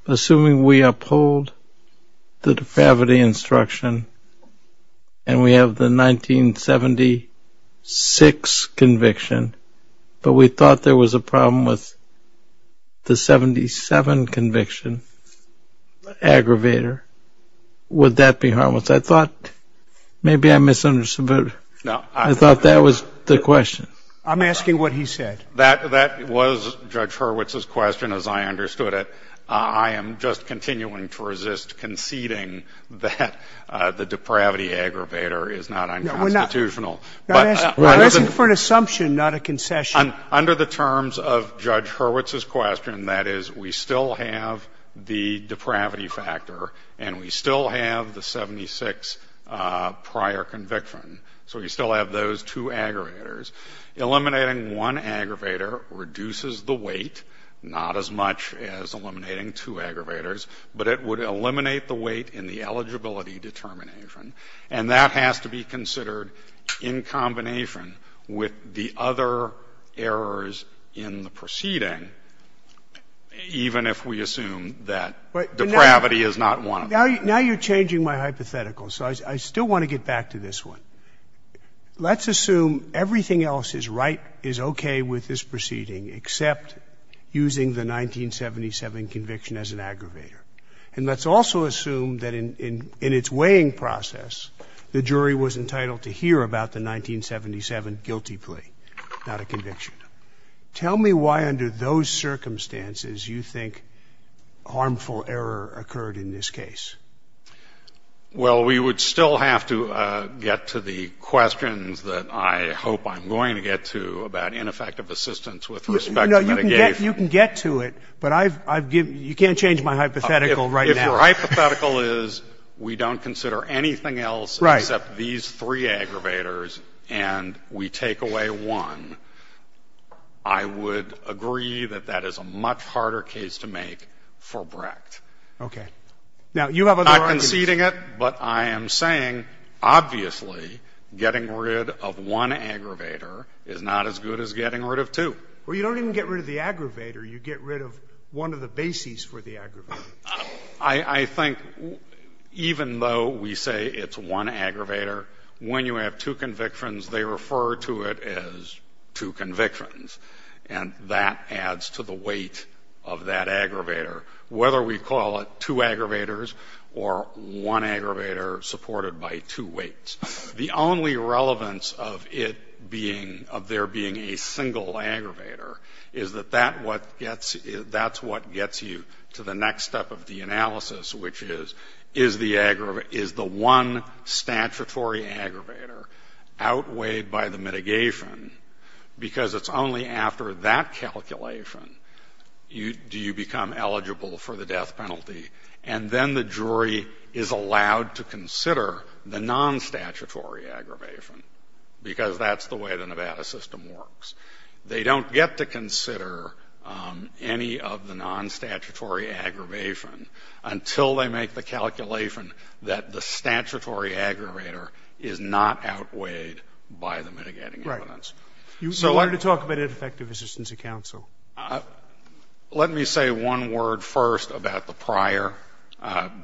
assuming we uphold the depravity instruction and we have the 1976 conviction, but we thought there was a problem with the 77 conviction aggravator, would that be harmless? I thought maybe I misunderstood. I thought that was the question. I'm asking what he said. That was Judge Hurwitz's question, as I understood it. I am just continuing to resist conceding that the depravity aggravator is not unconstitutional. We're not asking for an assumption, not a concession. Under the terms of Judge Hurwitz's question, that is, we still have the depravity factor and we still have the 76 prior conviction. So we still have those two aggravators. Eliminating one aggravator reduces the weight, not as much as eliminating two aggravators, but it would eliminate the weight in the eligibility determination, and that has to be considered in combination with the other errors in the proceeding, even if we assume that depravity is not one of them. Now you're changing my hypothetical, so I still want to get back to this one. Let's assume everything else is right, is okay with this proceeding, except using the 1977 conviction as an aggravator. And let's also assume that in its weighing process, the jury was entitled to hear about the 1977 guilty plea, not a conviction. Tell me why under those circumstances you think harmful error occurred in this case. Well, we would still have to get to the questions that I hope I'm going to get to about ineffective assistance with respect to mitigation. You can get to it, but you can't change my hypothetical right now. If your hypothetical is we don't consider anything else except these three aggravators and we take away one, I would agree that that is a much harder case to make for Brecht. Okay. Now, you have other arguments. I'm not conceding it, but I am saying obviously getting rid of one aggravator is not as good as getting rid of two. Well, you don't even get rid of the aggravator. You get rid of one of the bases for the aggravator. I think even though we say it's one aggravator, when you have two convictions, they refer to it as two convictions, and that adds to the weight of that aggravator. Whether we call it two aggravators or one aggravator supported by two weights. The only relevance of it being, of there being a single aggravator, is that that's what gets you to the next step of the analysis, which is is the one statutory aggravator outweighed by the mitigation because it's only after that calculation do you become eligible for the death penalty, and then the jury is allowed to consider the non-statutory aggravation because that's the way the Nevada system works. They don't get to consider any of the non-statutory aggravation until they make the calculation that the statutory aggravator is not outweighed by the mitigating evidence. Right. You wanted to talk about ineffective assistance of counsel. Let me say one word first about the prior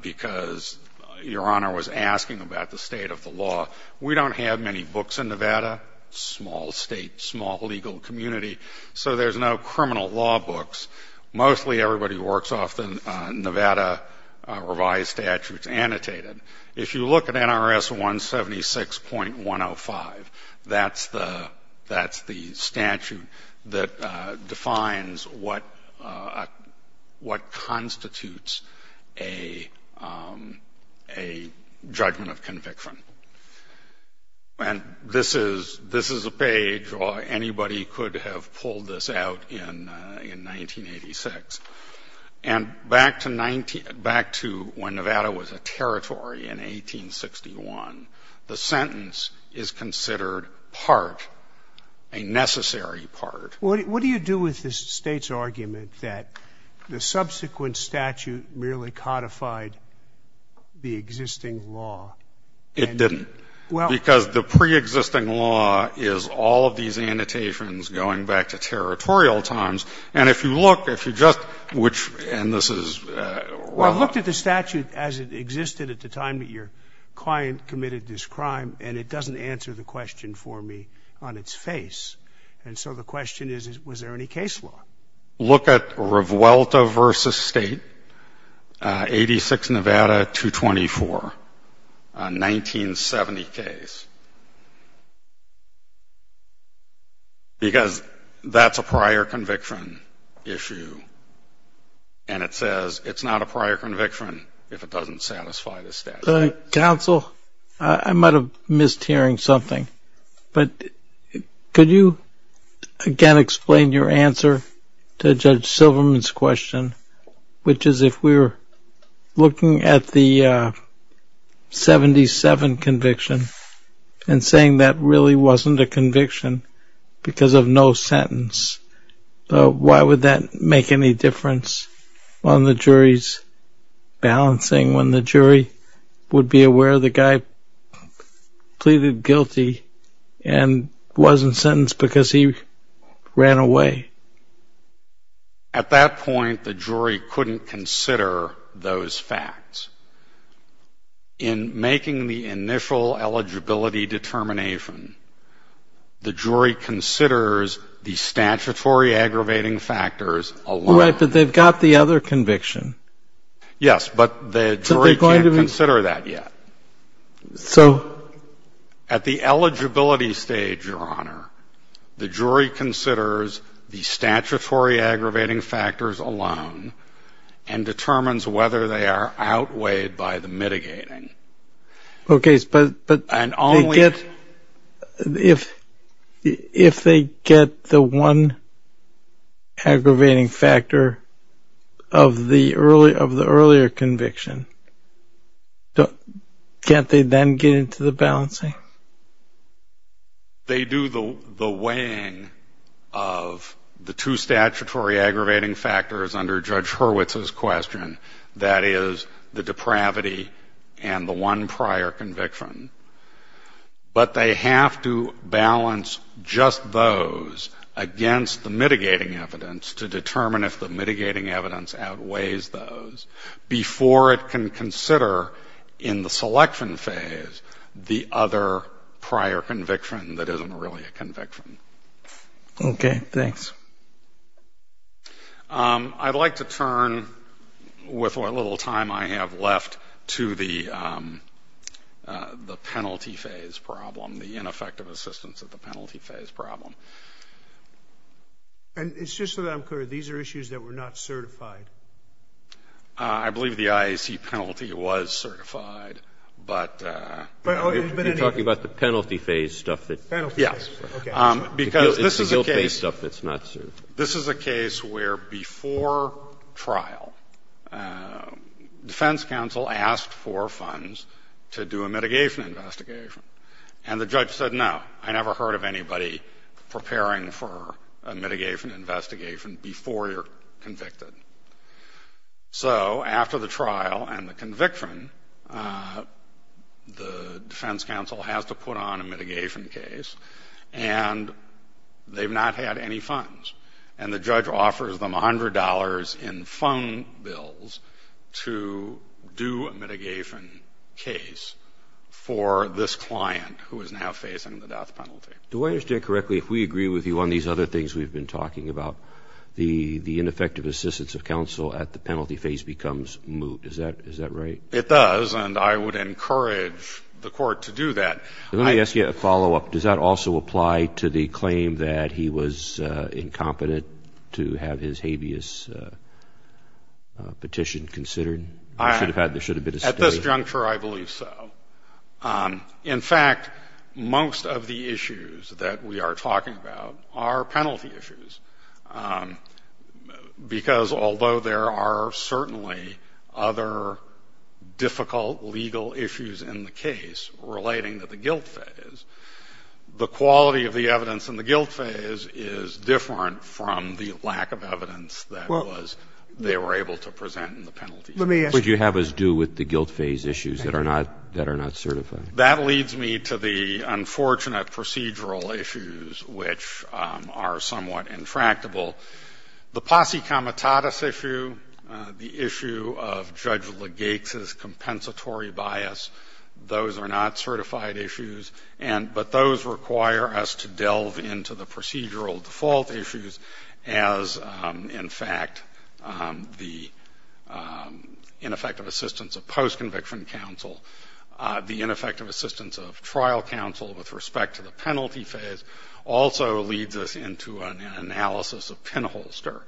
because Your Honor was asking about the state of the law. We don't have many books in Nevada, small state, small legal community, so there's no criminal law books. Mostly everybody works off the Nevada revised statutes annotated. If you look at NRS 176.105, that's the statute that defines what constitutes a judgment of conviction. And this is a page where anybody could have pulled this out in 1986. And back to when Nevada was a territory in 1861, the sentence is considered part, a necessary part. What do you do with the state's argument that the subsequent statute merely codified the existing law? It didn't because the preexisting law is all of these annotations going back to territorial times. And if you look, if you just, which, and this is. Well, I looked at the statute as it existed at the time that your client committed this crime, and it doesn't answer the question for me on its face. And so the question is, was there any case law? Look at Revuelta v. State, 86 Nevada 224, a 1970 case, because that's a prior conviction issue. And it says it's not a prior conviction if it doesn't satisfy the statute. Counsel, I might have missed hearing something. But could you again explain your answer to Judge Silverman's question, which is if we're looking at the 77 conviction and saying that really wasn't a conviction because of no sentence, why would that make any difference on the jury's balancing when the jury would be aware the guy pleaded guilty and wasn't sentenced because he ran away? At that point, the jury couldn't consider those facts. In making the initial eligibility determination, the jury considers the statutory aggravating factors alone. Right, but they've got the other conviction. Yes, but the jury can't consider that yet. So? At the eligibility stage, Your Honor, the jury considers the statutory aggravating factors alone and determines whether they are outweighed by the mitigating. Okay, but if they get the one aggravating factor of the earlier conviction, can't they then get into the balancing? They do the weighing of the two statutory aggravating factors under Judge Hurwitz's question. That is the depravity and the one prior conviction. But they have to balance just those against the mitigating evidence to determine if the mitigating evidence outweighs those before it can consider in the selection phase the other prior conviction that isn't really a conviction. Okay, thanks. I'd like to turn, with what little time I have left, to the penalty phase problem, the ineffective assistance of the penalty phase problem. And it's just so that I'm clear, these are issues that were not certified? I believe the IAC penalty was certified, but anyway. You're talking about the penalty phase stuff? Yes. Okay. It's the guilt phase stuff that's not certified. This is a case where before trial, defense counsel asked for funds to do a mitigation investigation, and the judge said, no, I never heard of anybody preparing for a mitigation investigation before you're convicted. So after the trial and the conviction, the defense counsel has to put on a mitigation case, and they've not had any funds. And the judge offers them $100 in fund bills to do a mitigation case for this client who is now facing the death penalty. Do I understand correctly, if we agree with you on these other things we've been talking about, the ineffective assistance of counsel at the penalty phase becomes moot? Is that right? It does, and I would encourage the court to do that. Let me ask you a follow-up. Does that also apply to the claim that he was incompetent to have his habeas petition considered? There should have been a study. At this juncture, I believe so. In fact, most of the issues that we are talking about are penalty issues, because although there are certainly other difficult legal issues in the case relating to the guilt phase, the quality of the evidence in the guilt phase is different from the lack of evidence that they were able to present in the penalty phase. What do you have us do with the guilt phase issues that are not certified? That leads me to the unfortunate procedural issues, which are somewhat intractable. The posse comitatus issue, the issue of Judge Legate's compensatory bias, those are not certified issues, but those require us to delve into the procedural default issues as, in fact, the ineffective assistance of post-conviction counsel, the ineffective assistance of trial counsel with respect to the penalty phase also leads us into an analysis of pinholster,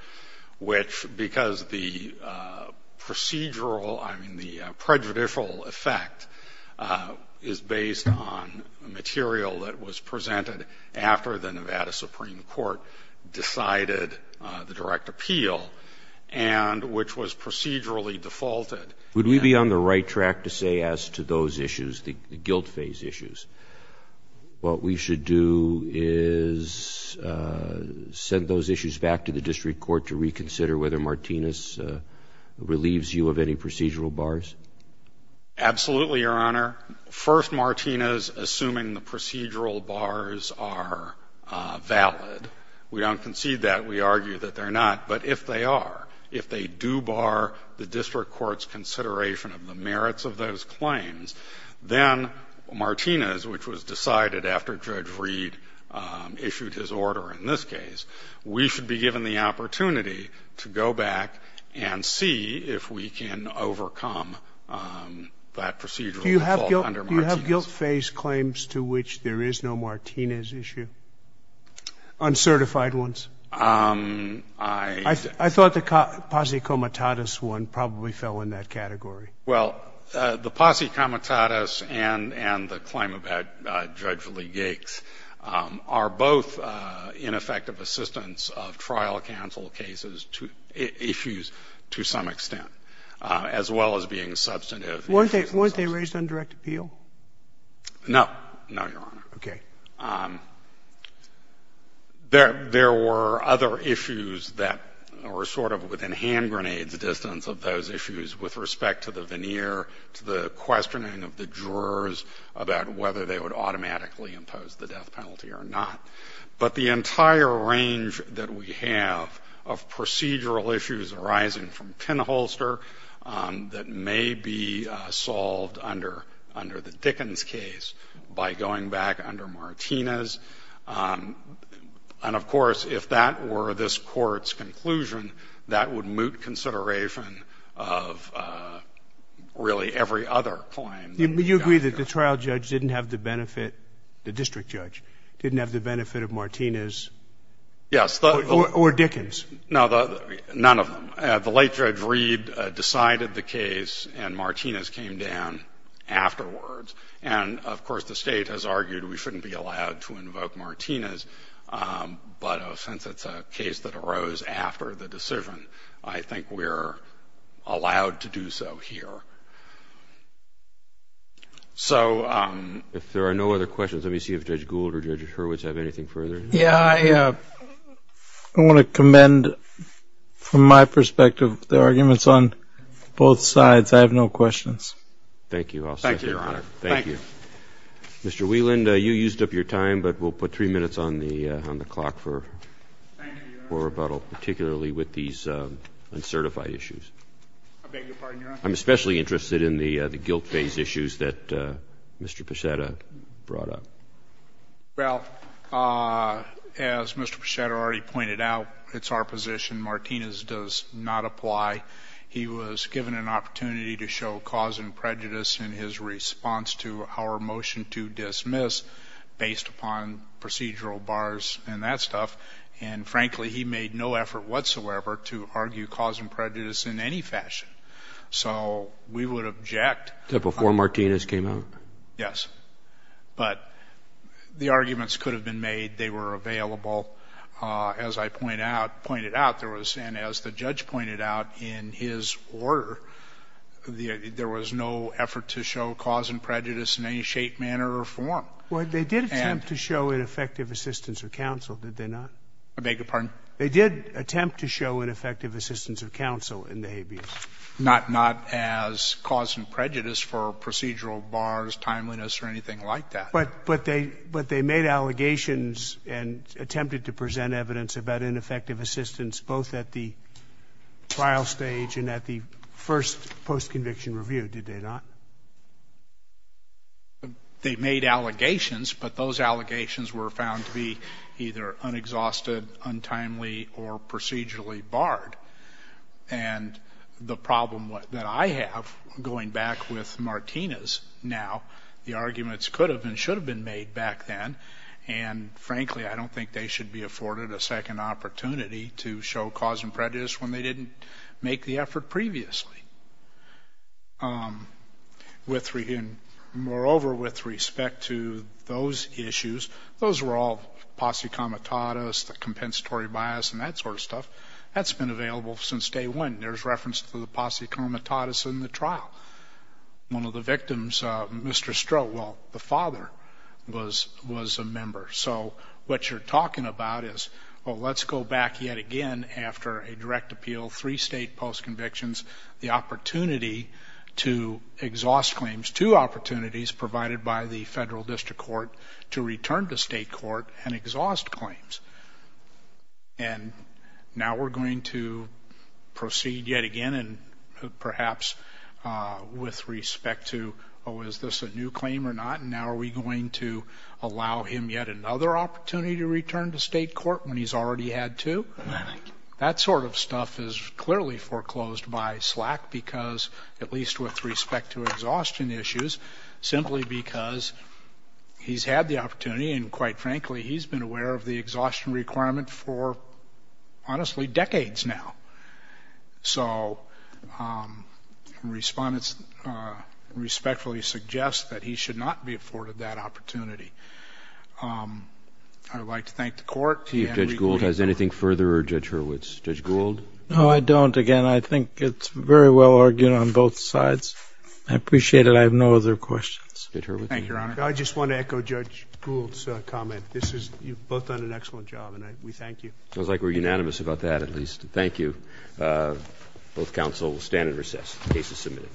which, because the procedural, I mean the prejudicial effect, is based on material that was presented after the Nevada Supreme Court decided the direct appeal, and which was procedurally defaulted. Would we be on the right track to say as to those issues, the guilt phase issues, what we should do is send those issues back to the district court to reconsider whether Martinez relieves you of any procedural bars? Absolutely, Your Honor. First, Martinez, assuming the procedural bars are valid. We don't concede that. We argue that they're not. But if they are, if they do bar the district court's consideration of the merits of those claims, then Martinez, which was decided after Judge Reed issued his order in this case, we should be given the opportunity to go back and see if we can overcome that procedural default under Martinez. Do you have guilt phase claims to which there is no Martinez issue? Uncertified ones? I thought the posse comitatus one probably fell in that category. Well, the posse comitatus and the claim about Judge Lee Yates are both ineffective assistance of trial counsel cases, issues to some extent, as well as being substantive. Weren't they raised on direct appeal? No. No, Your Honor. Okay. There were other issues that were sort of within hand grenades distance of those issues with respect to the veneer, to the questioning of the jurors about whether they would automatically impose the death penalty or not. But the entire range that we have of procedural issues arising from pinholster that may be solved under the Dickens case by going back under Martinez. And, of course, if that were this Court's conclusion, that would moot consideration of really every other claim. You agree that the trial judge didn't have the benefit, the district judge, didn't have the benefit of Martinez? Yes. Or Dickens? No, none of them. The late Judge Reed decided the case and Martinez came down afterwards. And, of course, the State has argued we shouldn't be allowed to invoke Martinez. But since it's a case that arose after the decision, I think we're allowed to do so here. So if there are no other questions, let me see if Judge Gould or Judge Hurwitz have anything further. Yeah, I want to commend from my perspective the arguments on both sides. I have no questions. Thank you. Thank you, Your Honor. Thank you. Mr. Wieland, you used up your time, but we'll put three minutes on the clock for rebuttal, particularly with these uncertified issues. I beg your pardon, Your Honor? I'm especially interested in the guilt phase issues that Mr. Pichetta brought up. Well, as Mr. Pichetta already pointed out, it's our position. Martinez does not apply. He was given an opportunity to show cause and prejudice in his response to our motion to dismiss, based upon procedural bars and that stuff. And, frankly, he made no effort whatsoever to argue cause and prejudice in any fashion. So we would object. Before Martinez came out? Yes. But the arguments could have been made. They were available. As I pointed out, and as the judge pointed out in his order, there was no effort to show cause and prejudice in any shape, manner, or form. Well, they did attempt to show ineffective assistance of counsel, did they not? I beg your pardon? They did attempt to show ineffective assistance of counsel in the habeas. Not as cause and prejudice for procedural bars, timeliness, or anything like that. But they made allegations and attempted to present evidence about ineffective assistance, both at the trial stage and at the first post-conviction review, did they not? They made allegations, but those allegations were found to be either unexhausted, untimely, or procedurally barred. And the problem that I have, going back with Martinez now, the arguments could have and should have been made back then. And, frankly, I don't think they should be afforded a second opportunity to show cause and prejudice when they didn't make the effort previously. Moreover, with respect to those issues, those were all posse comitatus, the compensatory bias, and that sort of stuff. That's been available since day one. There's reference to the posse comitatus in the trial. One of the victims, Mr. Stroh, well, the father was a member. So what you're talking about is, well, let's go back yet again after a direct appeal, three state post-convictions, the opportunity to exhaust claims, two opportunities provided by the federal district court to return to state court and exhaust claims. And now we're going to proceed yet again and perhaps with respect to, oh, is this a new claim or not, and now are we going to allow him yet another opportunity to return to state court when he's already had two? That sort of stuff is clearly foreclosed by SLAC because, at least with respect to exhaustion issues, simply because he's had the opportunity and, quite frankly, he's been aware of the exhaustion requirement for, honestly, decades now. So respondents respectfully suggest that he should not be afforded that opportunity. I would like to thank the court. See if Judge Gould has anything further or Judge Hurwitz. Judge Gould? No, I don't. Again, I think it's very well argued on both sides. I appreciate it. I have no other questions. Judge Hurwitz? Thank you, Your Honor. I just want to echo Judge Gould's comment. You've both done an excellent job, and we thank you. It sounds like we're unanimous about that, at least. Thank you. Both counsel will stand and recess. Case is submitted.